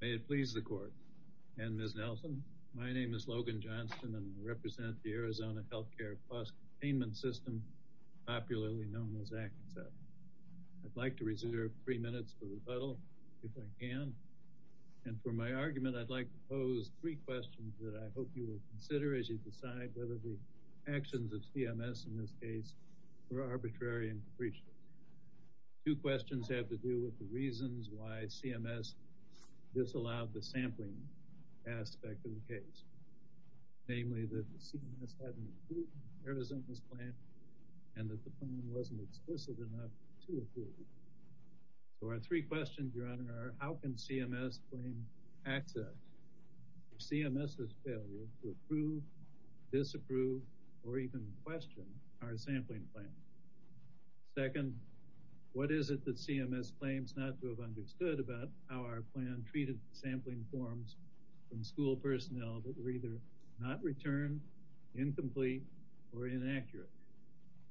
May it please the court and Ms. Nelson, my name is Logan Johnston and I represent the Arizona Health Care Cost Containment System popularly known as ACCS. I'd like to reserve three minutes for rebuttal if I can and for my argument I'd like to pose three questions that I hope you will consider as you decide whether the actions of CMS in this case were arbitrary and capricious. Two questions have to do with the reasons why CMS disallowed the sampling aspect of the case. Namely that the CMS hadn't approved Arizona's plan and that the plan wasn't explicit enough to approve it. So our three questions, Your Honor, are how can CMS claim access to CMS's failure to approve, disapprove, or even question our sampling plan? Second, what is it that CMS claims not to have understood about how our plan treated sampling forms from school personnel that were either not returned, incomplete, or inaccurate,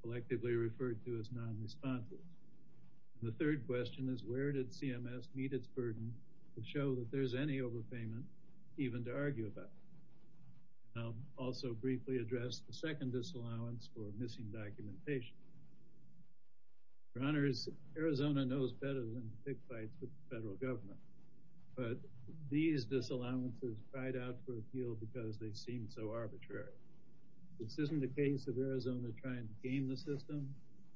collectively referred to as non-responsible? The third question is where did CMS meet its Also briefly address the second disallowance for missing documentation. Your Honor, Arizona knows better than to pick fights with the federal government, but these disallowances cried out for appeal because they seemed so arbitrary. This isn't the case of Arizona trying to game the system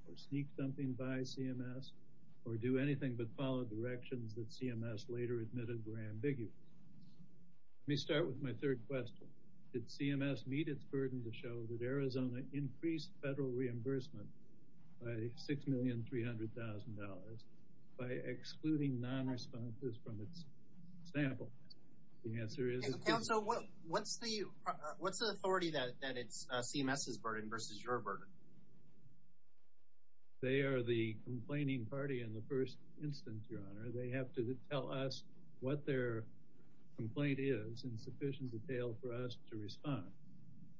or sneak something by CMS or do anything but follow directions that CMS later admitted were ambiguous. Let me start with my third question. Did CMS meet its burden to show that Arizona increased federal reimbursement by $6,300,000 by excluding non-responses from its sample? The answer is it didn't. Counsel, what's the authority that it's CMS's burden versus your burden? They are the complaining party in the first instance, Your Honor. They have to tell us what their complaint is in sufficient detail for us to respond,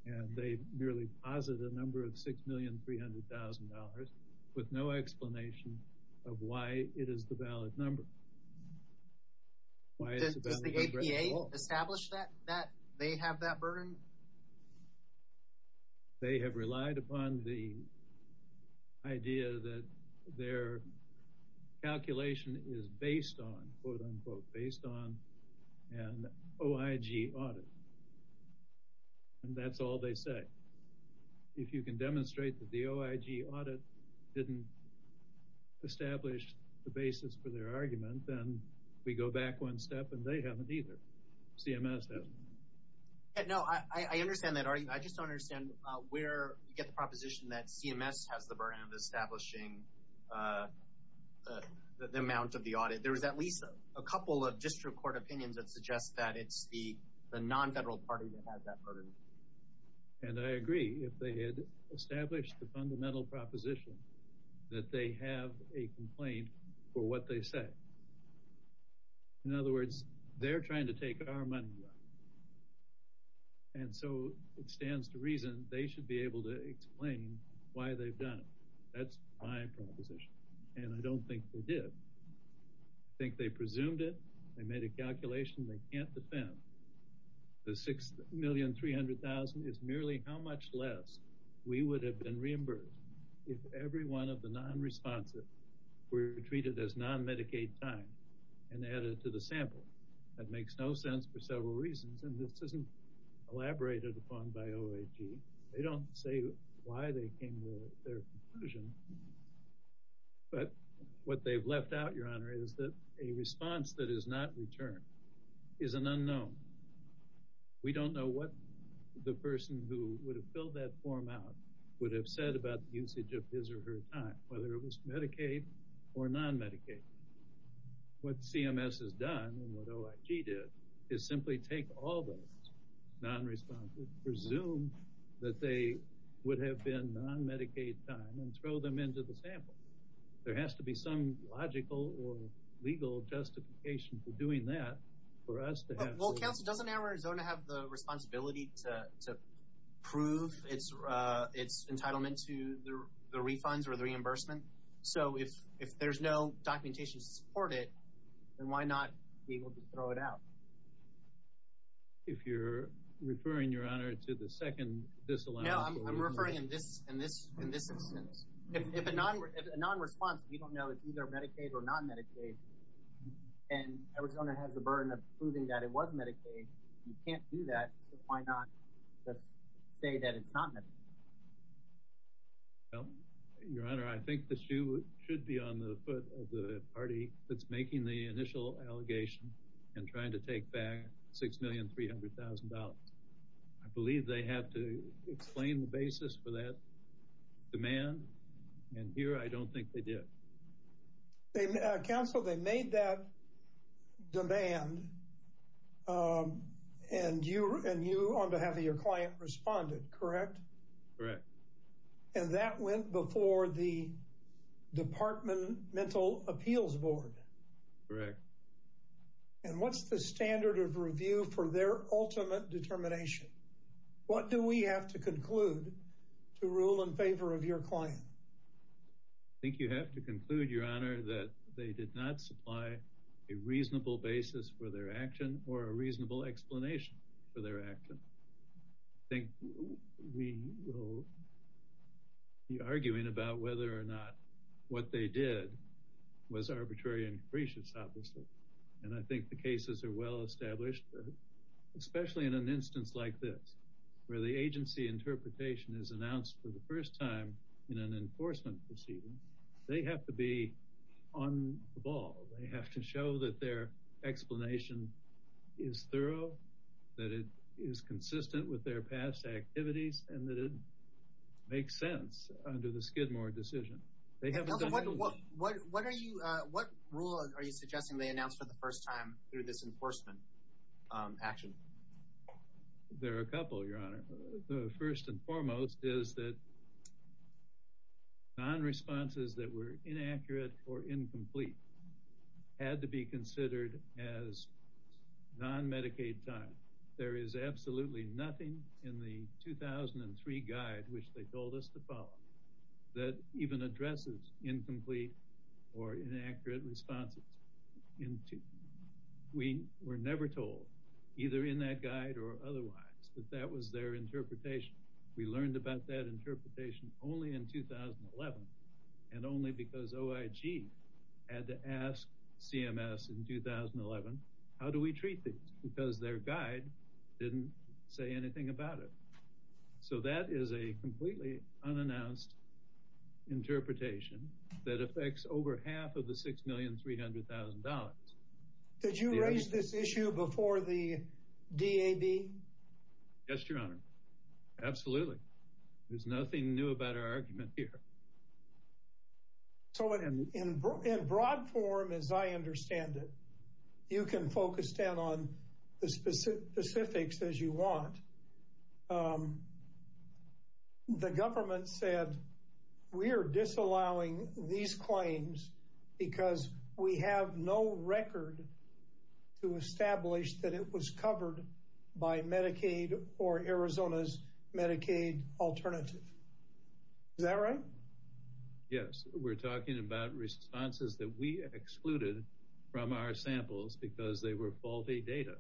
and they merely posit a number of $6,300,000 with no explanation of why it is the valid number. Does the APA establish that they have that burden? They have relied upon the idea that their calculation is based on, quote-unquote, based on an OIG audit, and that's all they say. If you can demonstrate that the OIG audit didn't establish the basis for their argument, then we go back one step and they haven't either. CMS hasn't. No, I understand that argument. I just don't understand where you get the proposition that CMS has the burden of establishing the amount of the audit. There's at least a couple of district court opinions that suggest that it's the non-federal party that has that burden. And I agree if they had established the fundamental proposition that they have a complaint for what they say. In other words, they're trying to take our money, and so it stands to reason they should be able to explain why they've done it. That's my proposition, and I don't think they did. I think they presumed it. They made a calculation they can't defend. The $6,300,000 is merely how much less we would have been reimbursed if every one of the non-responsive were treated as non-Medicaid time and added to the sample. That makes no sense for several reasons, and this isn't elaborated upon by OIG. They don't say why they came to their conclusion, but what they've left out, Your Honor, is that a response that is not returned is an unknown. We don't know what the person who would have filled that form out would have said about the usage of his or her time, whether it was Medicaid or non-Medicaid. What CMS has done, and what OIG did, is simply take all those non-responsive, presume that they would have been non-Medicaid time, and throw them into the sample. There has to be some logical or legal justification for doing that for us to have... Well, Council, doesn't Arizona have the responsibility to prove its entitlement to the refunds or the reimbursement? So if there's no documentation to support it, then why not be able to throw it out? If you're referring, Your Honor, to the second disallowance... No, I'm referring in this instance. If a non-responsive, you don't know it's either Medicaid or non-Medicaid, and Arizona has the burden of proving that it was Medicaid, you can't do that, so why not just say that it's not Medicaid? Well, Your Honor, I think the issue should be on the foot of the party that's making the initial allegation and trying to take back $6,300,000. I believe they have to explain the basis for that demand, and here I don't think they did. Council, they made that demand, and you, on behalf of your client, responded, correct? Correct. And that went before the Departmental Appeals Board? Correct. And what's the standard of review for their ultimate determination? What do we have to conclude to rule in favor of your client? I think you have to conclude, Your Honor, that they did not supply a reasonable basis for their action or a reasonable explanation for their action. I think we will be arguing about whether or not what they did was arbitrary and capricious, obviously. And I think the cases are well established, especially in an instance like this, where the agency interpretation is announced for the first time in an enforcement proceeding. They have to be on the ball. They have to show that their explanation is thorough, that it is consistent with their past activities, and that it makes sense under the Skidmore decision. Council, what rule are you suggesting they announced for the first time through this enforcement action? There are a couple, Your Honor. The first and foremost is that non-responses that were inaccurate or incomplete had to be considered as non-Medicaid time. There is absolutely nothing in the 2003 guide, which they told us to follow, that even addresses incomplete or inaccurate responses. We were never told, either in that guide or otherwise, that that was their interpretation. We learned about that interpretation only in 2011, and only because OIG had to ask CMS in 2011, how do we treat these? Because their guide didn't say anything about it. So that is a completely unannounced interpretation that affects over half of the $6,300,000. Did you raise this issue before the DAB? Yes, Your Honor. Absolutely. There's nothing new about our argument here. So in broad form, as I understand it, you can focus down on the specifics as you want. The government said, we are disallowing these claims because we have no record to establish that it was covered by Medicaid or Arizona's Medicaid alternative. Is that right? Yes, we're talking about responses that we excluded from our samples because they were faulty data.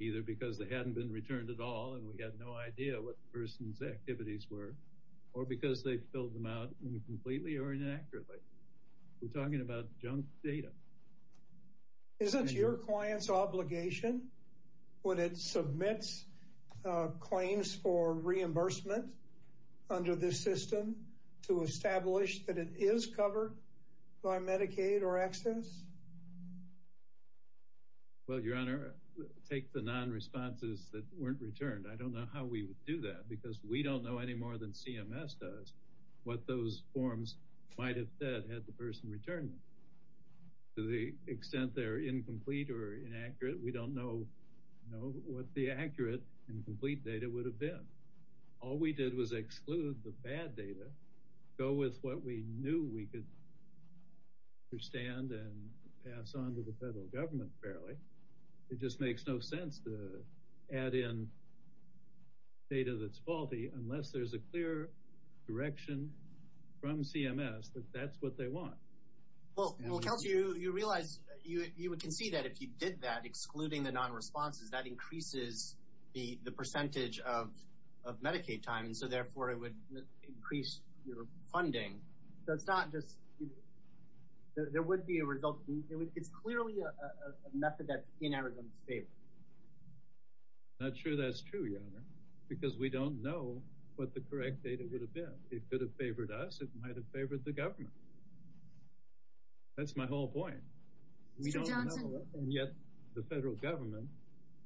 Either because they hadn't been returned at all, and we had no idea what the person's activities were, or because they filled them out incompletely or inaccurately. We're talking about junk data. Isn't your client's obligation, when it submits claims for reimbursement under this system, to establish that it is covered by Medicaid or ACCESS? Well, Your Honor, take the non-responses that weren't returned. I don't know how we would do that because we don't know any more than CMS does what those forms might have said had the person returned them. To the extent they're incomplete or inaccurate, we don't know what the accurate and complete data would have been. All we did was exclude the bad data, go with what we knew we could understand and pass on to the federal government fairly. It just makes no sense to add in data that's faulty unless there's a clear direction from CMS that that's what they want. Well, Kelsey, you realize, you can see that if you did that, excluding the non-responses, that increases the percentage of Medicaid time, so therefore it would increase your funding. So it's not just, there would be a result, it's clearly a method that's in Arizona's favor. I'm not sure that's true, Your Honor, because we don't know what the correct data would have been. It could have favored us, it might have favored the government. That's my whole point. We don't know, and yet the federal government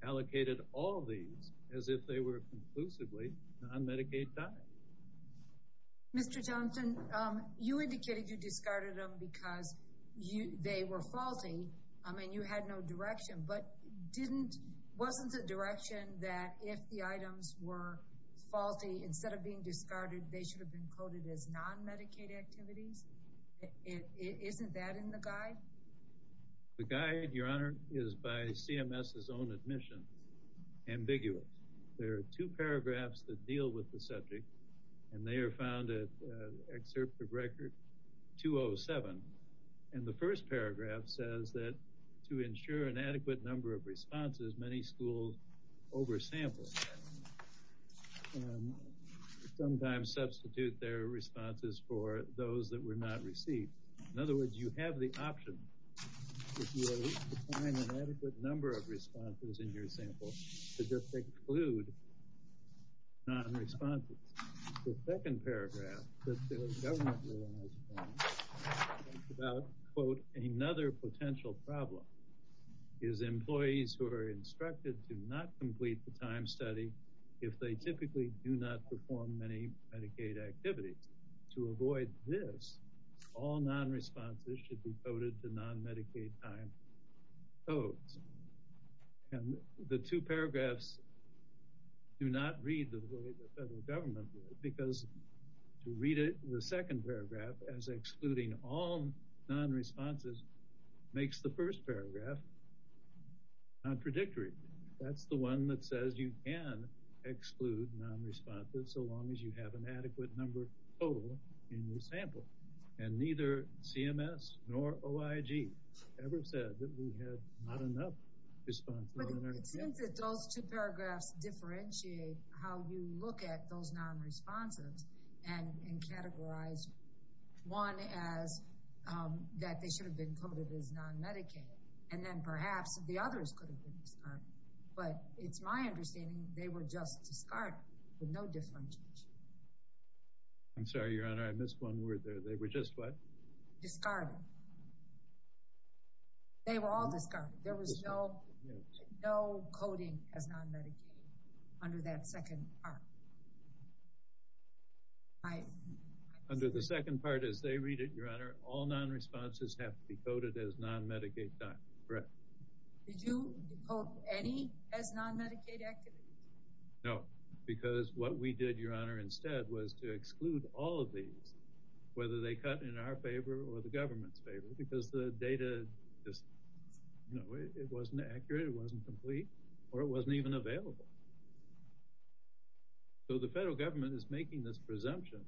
allocated all these as if they were conclusively non-Medicaid time. Mr. Johnson, you indicated you discarded them because they were faulty, and you had no direction, but wasn't the direction that if the items were faulty, instead of being discarded, they should have been coded as non-Medicaid activities? Isn't that in the guide? The guide, Your Honor, is by CMS's own admission, ambiguous. There are two paragraphs that deal with the subject, and they are found at Excerpt of Record 207. And the first paragraph says that to ensure an adequate number of responses, many schools oversample and sometimes substitute their responses for those that were not received. In other words, you have the option, if you are able to find an adequate number of responses in your sample, to just exclude non-responses. The second paragraph that the government realized was about, quote, another potential problem, is employees who are instructed to not complete the time study if they typically do not perform many Medicaid activities. To avoid this, all non-responses should be coded to non-Medicaid time codes. And the two paragraphs do not read the way the federal government did, because to read the second paragraph as excluding all non-responses makes the first paragraph contradictory. That's the one that says you can exclude non-responses so long as you have an adequate number total in your sample. And neither CMS nor OIG ever said that we had not enough responses. But it seems that those two paragraphs differentiate how you look at those non-responses and categorize one as that they should have been coded as non-Medicaid, and then perhaps the others could have been discarded. But it's my understanding they were just discarded with no differentiation. I'm sorry, Your Honor, I missed one word there. They were just what? Discarded. They were all discarded. There was no coding as non-Medicaid under that second part. Under the second part, as they read it, Your Honor, all non-responses have to be coded as non-Medicaid time. Correct. Did you decode any as non-Medicaid activities? No, because what we did, Your Honor, instead was to exclude all of these, whether they cut in our favor or the government's favor, because the data just, you know, it wasn't accurate, it wasn't complete, or it wasn't even available. So the federal government is making this presumption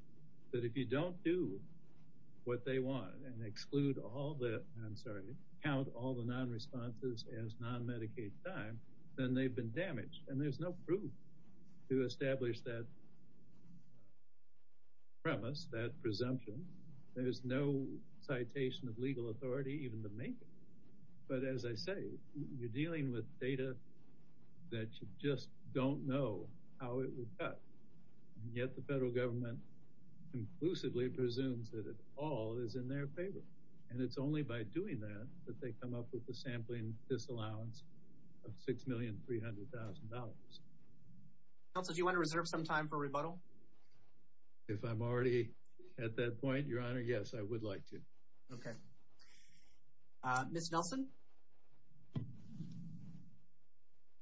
that if you don't do what they want and exclude all the, I'm sorry, count all the non-responses as non-Medicaid time, then they've been damaged. And there's no proof to establish that premise, that presumption. There's no citation of legal authority even to make it. But as I say, you're dealing with data that you just don't know how it was cut. And yet the federal government conclusively presumes that it all is in their favor. And it's only by doing that that they come up with the sampling disallowance of $6,300,000. Counsel, do you want to reserve some time for rebuttal? If I'm already at that point, Your Honor, yes, I would like to. Okay. Ms. Nelson?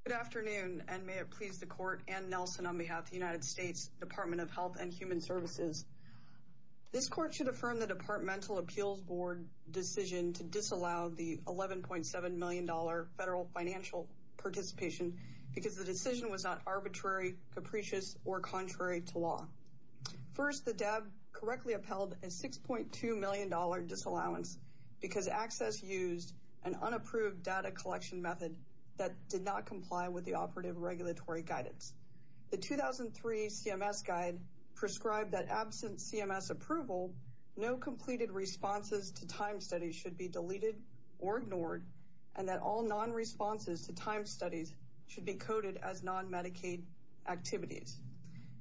Good afternoon, and may it please the Court and Nelson on behalf of the United States Department of Health and Human Services. This Court should affirm the Departmental Appeals Board decision to disallow the $11.7 million federal financial participation because the decision was not arbitrary, capricious, or contrary to law. First, the DAB correctly upheld a $6.2 million disallowance because ACCESS used an unapproved data collection method that did not comply with the operative regulatory guidance. The 2003 CMS guide prescribed that absent CMS approval, no completed responses to time studies should be deleted or ignored, and that all non-responses to time studies should be coded as non-Medicaid activities.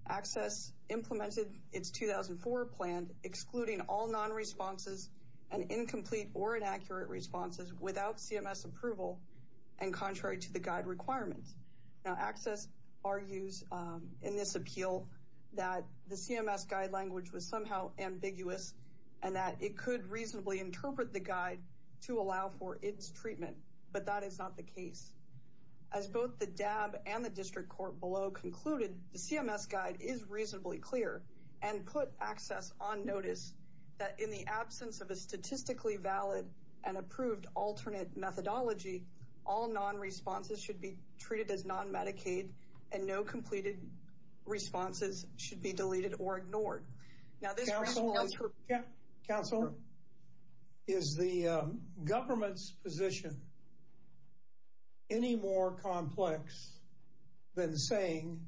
ACCESS implemented its 2004 plan excluding all non-responses and incomplete or inaccurate responses without CMS approval and contrary to the guide requirements. Now, ACCESS argues in this appeal that the CMS guide language was somehow ambiguous and that it could reasonably interpret the guide to allow for its treatment, but that is not the case. As both the DAB and the District Court below concluded, the CMS guide is reasonably clear and put ACCESS on notice that in the absence of a statistically valid and approved alternate methodology, all non-responses should be treated as non-Medicaid and no completed responses should be deleted or ignored. Now, this ramps up... Council, is the government's position any more complex than saying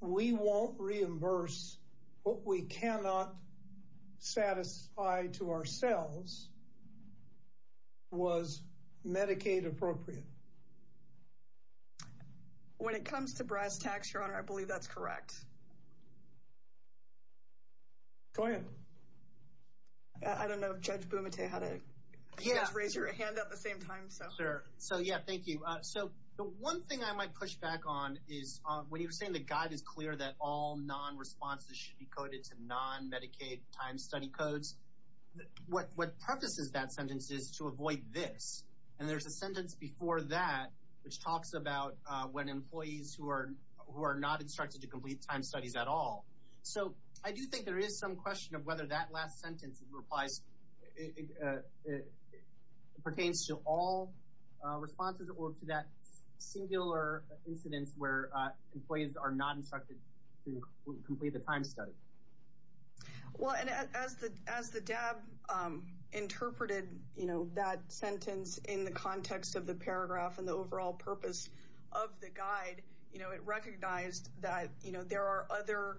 we won't reimburse what we cannot satisfy to ourselves was Medicaid appropriate? When it comes to brass tacks, Your Honor, I believe that's correct. Go ahead. I don't know if Judge Bumate had a... Yeah. Just raise your hand at the same time, so... Sure. So, yeah, thank you. So, the one thing I might push back on is when you were saying the guide is clear that all non-responses should be coded to non-Medicaid time study codes, what purposes that sentence is to avoid this. And there's a sentence before that which talks about when employees who are not instructed to complete time studies at all. So, I do think there is some question of whether that last sentence pertains to all responses or to that singular incidence where employees are not instructed to complete the time study. Well, as the DAB interpreted that sentence in the context of the paragraph and the overall purpose of the guide, it recognized that there are other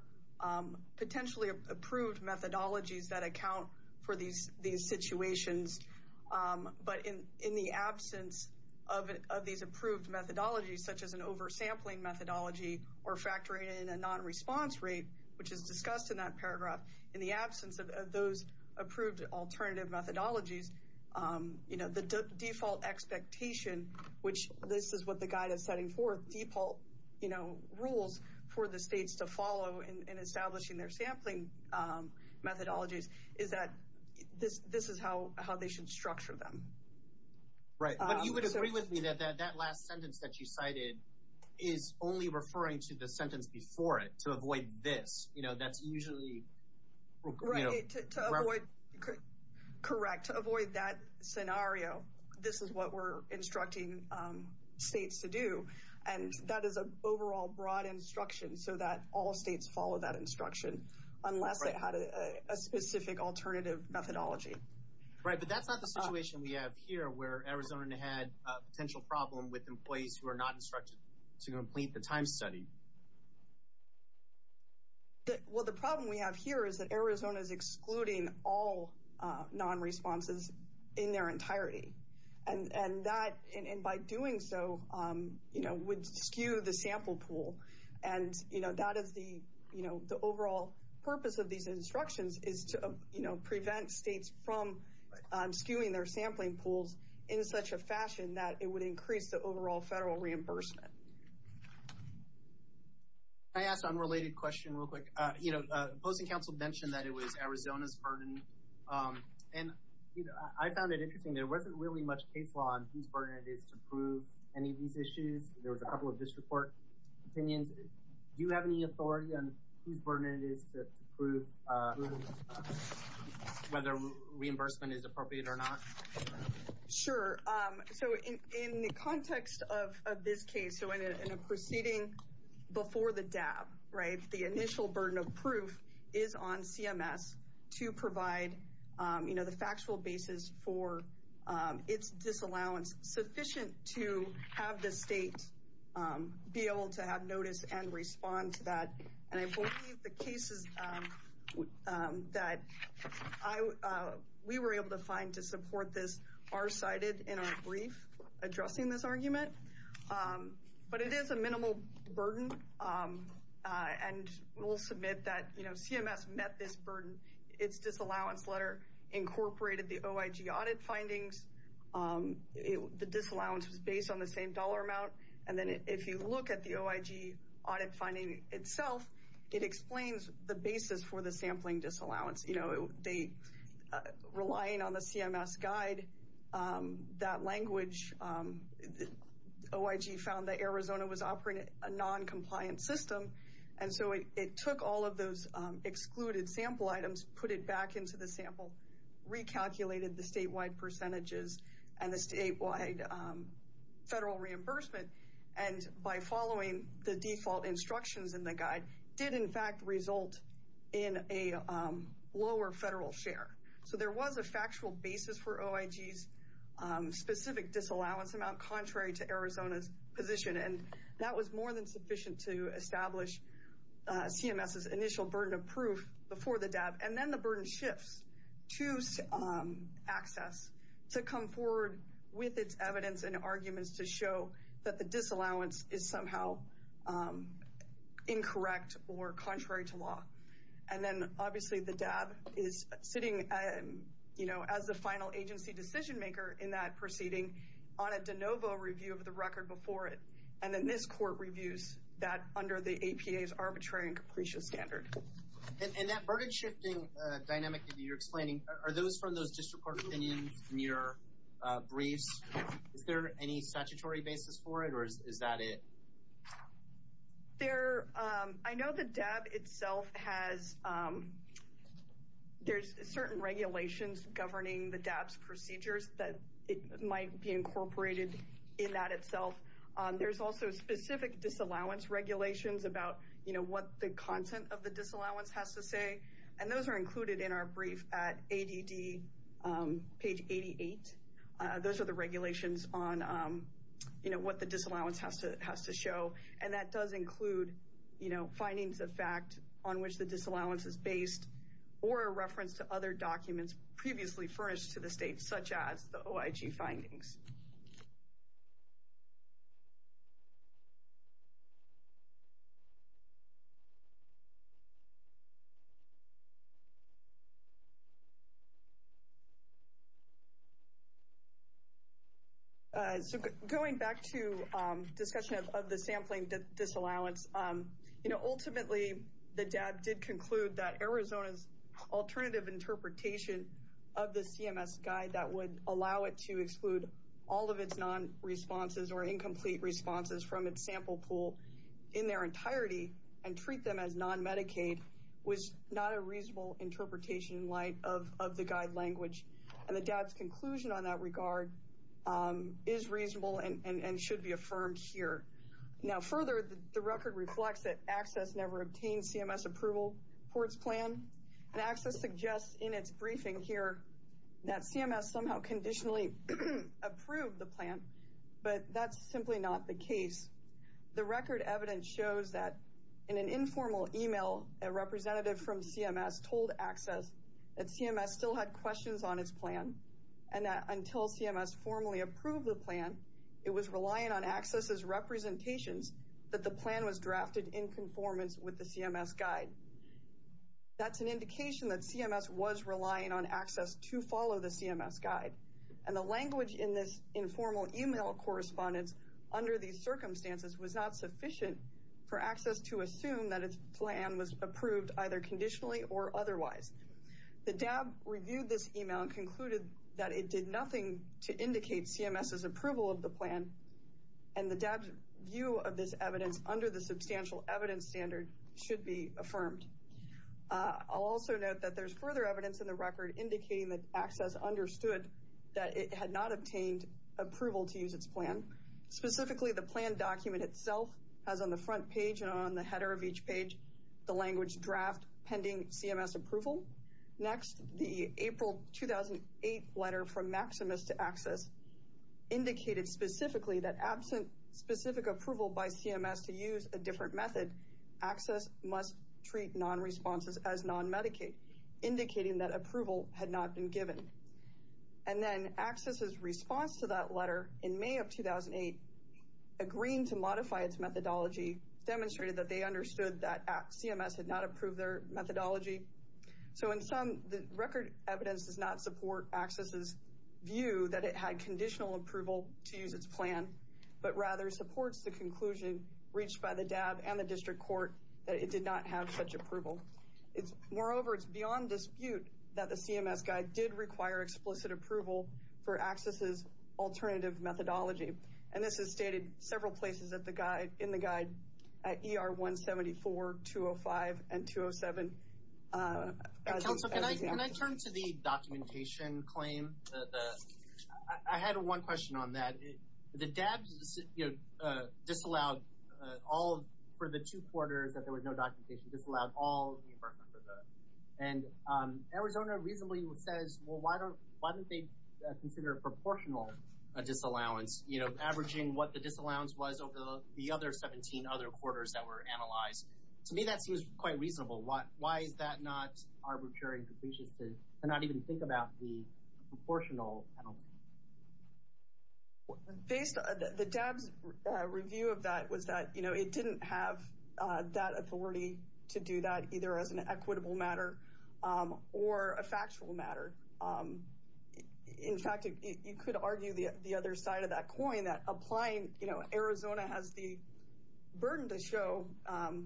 potentially approved methodologies that account for these situations. But in the absence of these approved methodologies, such as an oversampling methodology or factoring in a non-response rate, which is discussed in that paragraph, in the absence of those approved alternative methodologies, the default expectation, which this is what the guide is setting forth, default rules for the states to follow in establishing their sampling methodologies, is that this is how they should structure them. Right. But you would agree with me that that last sentence that you cited is only referring to the sentence before it, to avoid this. You know, that's usually... Right. To avoid... Correct. To avoid that scenario, this is what we're instructing states to do. And that is an overall broad instruction so that all states follow that instruction unless they had a specific alternative methodology. Right. But that's not the situation we have here where Arizona had a potential problem with employees who are not instructed to complete the time study. Well, the problem we have here is that Arizona is excluding all non-responses in their entirety. And that, by doing so, would skew the sample pool. And that is the overall purpose of these instructions, is to prevent states from skewing their sampling pools in such a fashion that it would increase the overall federal reimbursement. Can I ask an unrelated question real quick? You know, opposing counsel mentioned that it was Arizona's burden. And I found it interesting. There wasn't really much case law on whose burden it is to prove any of these issues. There was a couple of district court opinions. Do you have any authority on whose burden it is to prove whether reimbursement is appropriate or not? Sure. So in the context of this case, so in a proceeding before the DAB, right, the initial burden of proof is on CMS to provide, you know, the factual basis for its disallowance sufficient to have the state be able to have notice and respond to that. And I believe the cases that we were able to find to support this are cited in our brief addressing this argument. But it is a minimal burden. And we'll submit that, you know, CMS met this burden. Its disallowance letter incorporated the OIG audit findings. The disallowance was based on the same dollar amount. And then if you look at the OIG audit finding itself, it explains the basis for the sampling disallowance. You know, relying on the CMS guide, that language, OIG found that Arizona was operating a noncompliant system. And so it took all of those excluded sample items, put it back into the sample, recalculated the statewide percentages, and the statewide federal reimbursement, and by following the default instructions in the guide, did in fact result in a lower federal share. So there was a factual basis for OIG's specific disallowance amount, contrary to Arizona's position. And that was more than sufficient to establish CMS's initial burden of proof before the DAB. And then the burden shifts to ACCESS to come forward with its evidence and arguments to show that the disallowance is somehow incorrect or contrary to law. And then obviously the DAB is sitting, you know, as the final agency decision maker in that proceeding on a de novo review of the record before it. And then this court reviews that under the APA's arbitrary and capricious standard. And that burden shifting dynamic that you're explaining, are those from those district court opinions in your briefs? Is there any statutory basis for it, or is that it? There, I know the DAB itself has, there's certain regulations governing the DAB's procedures that might be incorporated in that itself. There's also specific disallowance regulations about, you know, what the content of the disallowance has to say. And those are included in our brief at ADD, page 88. Those are the regulations on, you know, what the disallowance has to show. And that does include, you know, findings of fact on which the disallowance is based, or a reference to other documents previously furnished to the state, such as the OIG findings. Okay. So going back to discussion of the sampling disallowance, you know, ultimately the DAB did conclude that Arizona's alternative interpretation of the CMS guide that would allow it to exclude all of its non-responses or incomplete responses from its sample pool in their entirety and treat them as non-Medicaid was not a reasonable interpretation in light of the guide language. And the DAB's conclusion on that regard is reasonable and should be affirmed here. Now further, the record reflects that ACCESS never obtained CMS approval for its plan. And ACCESS suggests in its briefing here that CMS somehow conditionally approved the plan, but that's simply not the case. The record evidence shows that in an informal email, a representative from CMS told ACCESS that CMS still had questions on its plan and that until CMS formally approved the plan, it was relying on ACCESS's representations that the plan was drafted in conformance with the CMS guide. That's an indication that CMS was relying on ACCESS to follow the CMS guide. And the language in this informal email correspondence under these circumstances was not sufficient for ACCESS to assume that its plan was approved either conditionally or otherwise. The DAB reviewed this email and concluded that it did nothing to indicate CMS's approval of the plan and the DAB's view of this evidence under the substantial evidence standard should be affirmed. I'll also note that there's further evidence in the record indicating that ACCESS understood that it had not obtained approval to use its plan. Specifically, the plan document itself has on the front page and on the header of each page the language draft pending CMS approval. Next, the April 2008 letter from Maximus to ACCESS indicated specifically that absent specific approval by CMS to use a different method, ACCESS must treat non-responses as non-Medicaid, indicating that approval had not been given. And then ACCESS's response to that letter in May of 2008, agreeing to modify its methodology, demonstrated that they understood that CMS had not approved their methodology. So in sum, the record evidence does not support ACCESS's view that it had conditional approval to use its plan, but rather supports the conclusion reached by the DAB and the District Court that it did not have such approval. Moreover, it's beyond dispute that the CMS guide did require explicit approval for ACCESS's alternative methodology. And this is stated several places in the guide at ER 174, 205, and 207. Council, can I turn to the documentation claim? I had one question on that. The DAB disallowed all for the two quarters that there was no documentation, disallowed all the reimbursement for the... And Arizona reasonably says, well, why don't they consider a proportional disallowance? You know, averaging what the disallowance was over the other 17 other quarters that were analyzed. To me, that seems quite reasonable. Why is that not arbitrary and capricious to not even think about the proportional penalty? Based on the DAB's review of that, it was that it didn't have that authority to do that either as an equitable matter or a factual matter. In fact, you could argue the other side of that coin that applying Arizona has the burden to show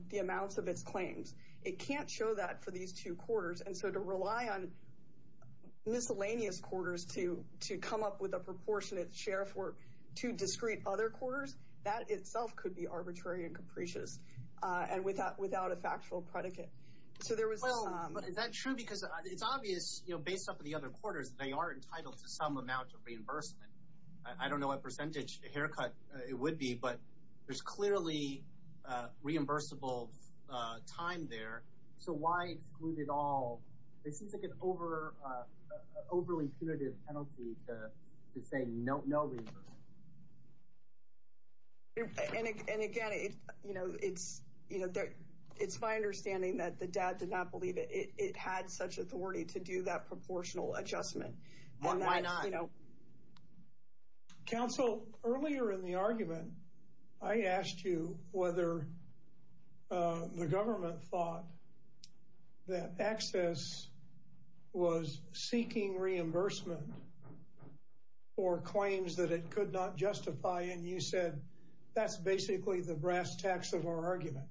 the amounts of its claims. It can't show that for these two quarters. And so to rely on miscellaneous quarters to come up with a proportionate share for two discrete other quarters, that itself could be arbitrary and capricious and without a factual predicate. Is that true? Because it's obvious, based off of the other quarters, they are entitled to some amount of reimbursement. I don't know what percentage haircut it would be, but there's clearly reimbursable time there. So why exclude it all? It seems like an overly punitive penalty to say no reimbursement. And again, it's my understanding that the DAB did not believe it had such authority to do that proportional adjustment. Why not? Council, earlier in the argument, I asked you whether the government thought that excess was seeking reimbursement or claims that it could not justify. And you said, that's basically the brass tacks of our argument.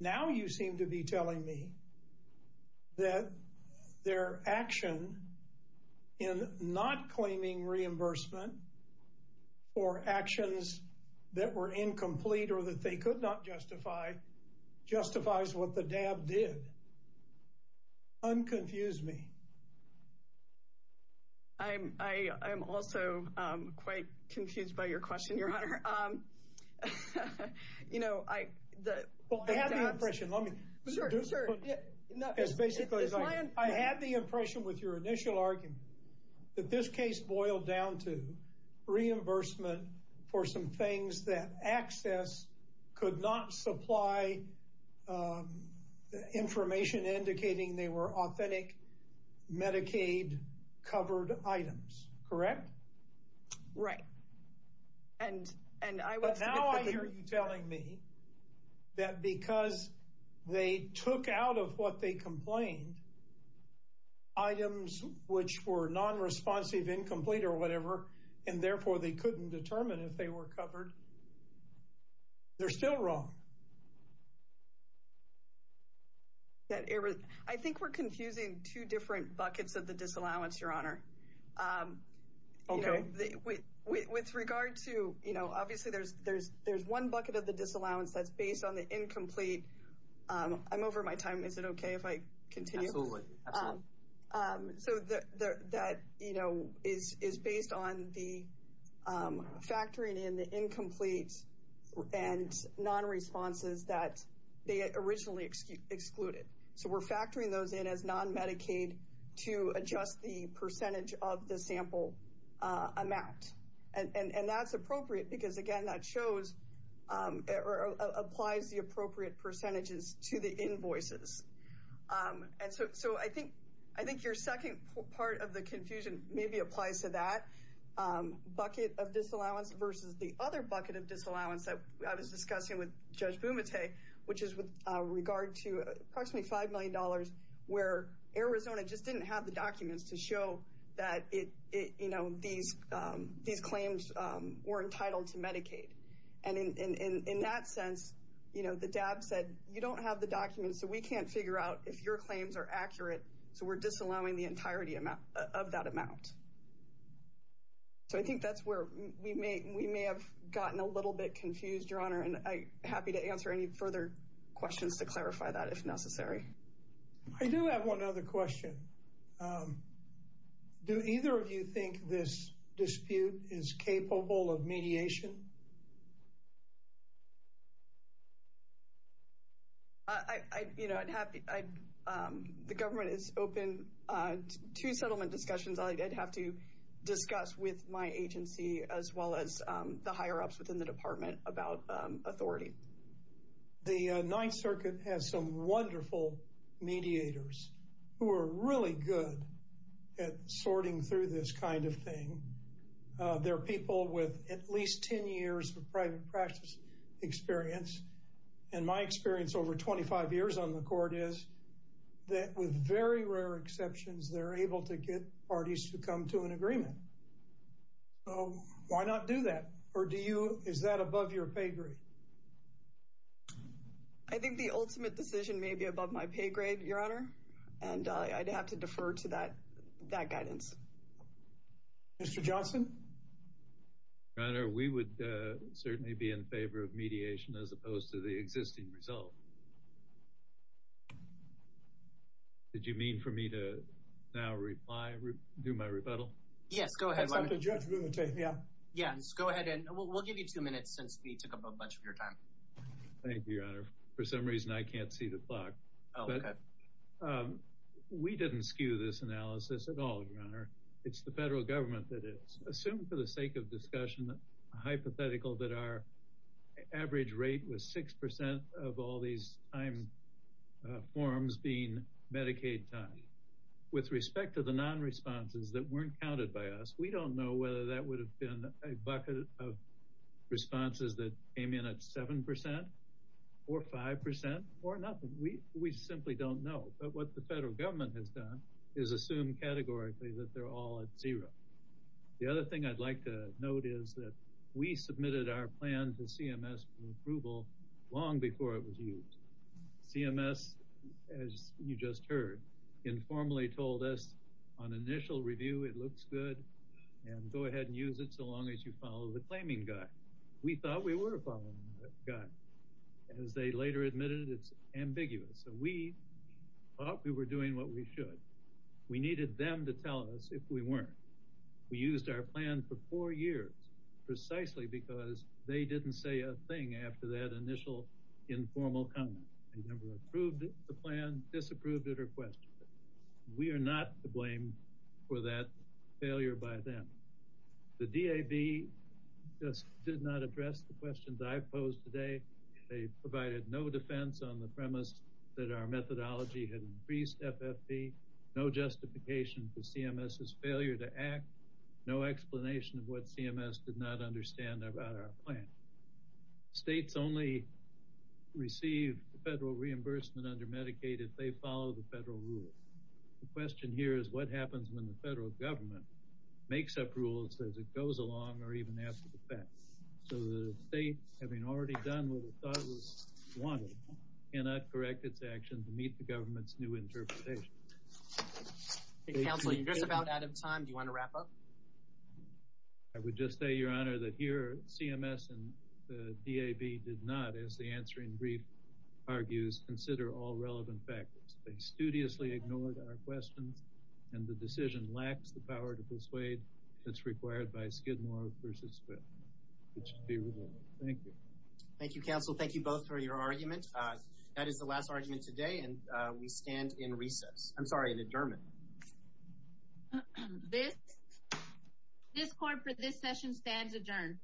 Now you seem to be telling me that their action in not claiming reimbursement for actions that were incomplete or that they could not justify, justifies what the DAB did. Unconfuse me. I'm also quite confused by your question, Your Honor. You know, I... Well, I had the impression, let me... Sure, sure. It's basically... It's my impression. I had the impression with your initial argument that this case boiled down to reimbursement for some things that access could not supply, information indicating they were authentic Medicaid covered items, correct? Right. And I was... But now I hear you telling me that because they took out of what they complained, items which were non-responsive, incomplete or whatever, and therefore they couldn't determine if they were covered, they're still wrong. I think we're confusing two different buckets of the disallowance, Your Honor. Okay. With regard to... Obviously, there's one bucket of the disallowance that's based on the incomplete. I'm over my time. Is it okay if I continue? Absolutely. Absolutely. So that is based on the factoring in the incomplete and non-responses that they originally excluded. So we're factoring those in as non-Medicaid to adjust the percentage of the sample amount. And that's appropriate because, again, that applies the appropriate percentages to the invoices. And so I think your second part of the confusion maybe applies to that bucket of disallowance versus the other bucket of disallowance that I was discussing with Judge Bumate, which is with regard to approximately $5 million where Arizona just didn't have the documents to show that these claims were entitled to Medicaid. And in that sense, the DAB said, you don't have the documents, so we can't figure out if your claims are accurate, so we're disallowing the entirety of that amount. So I think that's where we may have gotten a little bit confused, Your Honor, and I'm happy to answer any further questions to clarify that if necessary. I do have one other question. Do either of you think this dispute is capable of mediation? You know, I'm happy. The government is open to settlement discussions. I'd have to discuss with my agency as well as the higher-ups within the department about authority. The Ninth Circuit has some wonderful mediators who are really good at sorting through this kind of thing. They're people with at least 10 years of private practice experience, and my experience over 25 years on the Court is that with very rare exceptions, they're able to get parties to come to an agreement. So why not do that? Or is that above your pay grade? I think the ultimate decision may be above my pay grade, Your Honor, and I'd have to defer to that guidance. Mr. Johnson? Your Honor, we would certainly be in favor of mediation as opposed to the existing result. Did you mean for me to now reply, do my rebuttal? Yes, go ahead. Yes, go ahead, and we'll give you two minutes since we took up a bunch of your time. Thank you, Your Honor. For some reason, I can't see the clock. We didn't skew this analysis at all, Your Honor. It's the federal government that is. Assume, for the sake of discussion, a hypothetical that our average rate was 6% of all these time forms being Medicaid time. With respect to the non-responses that weren't counted by us, we don't know whether that would have been a bucket of responses that came in at 7% or 5% or nothing. We simply don't know. But what the federal government has done is assume categorically that they're all at zero. The other thing I'd like to note is that we submitted our plan to CMS for approval long before it was used. CMS, as you just heard, informally told us on initial review it looks good and go ahead and use it so long as you follow the claiming guide. We thought we were following that guide. As they later admitted, it's ambiguous. So we thought we were doing what we should. We needed them to tell us if we weren't. We used our plan for four years precisely because they didn't say a thing after that initial informal comment. They never approved the plan, disapproved it, or questioned it. We are not to blame for that failure by them. The DAB just did not address the questions I've posed today. They provided no defense on the premise that our methodology had increased FFP, no justification for CMS's failure to act, no explanation of what CMS did not understand about our plan. States only receive federal reimbursement under Medicaid if they follow the federal rule. The question here is what happens when the federal government makes up rules as it goes along or even after the fact. So the state, having already done what it thought was wanted, cannot correct its action to meet the government's new interpretation. Counsel, you're just about out of time. Do you want to wrap up? I would just say, Your Honor, that here CMS and the DAB did not, as the answering brief argues, consider all relevant factors. They studiously ignored our questions, and the decision lacks the power to persuade that's required by Skidmore v. Smith. It should be removed. Thank you. Thank you, Counsel. Thank you both for your argument. That is the last argument today, and we stand in recess. I'm sorry, in adjournment. This court for this session stands adjourned.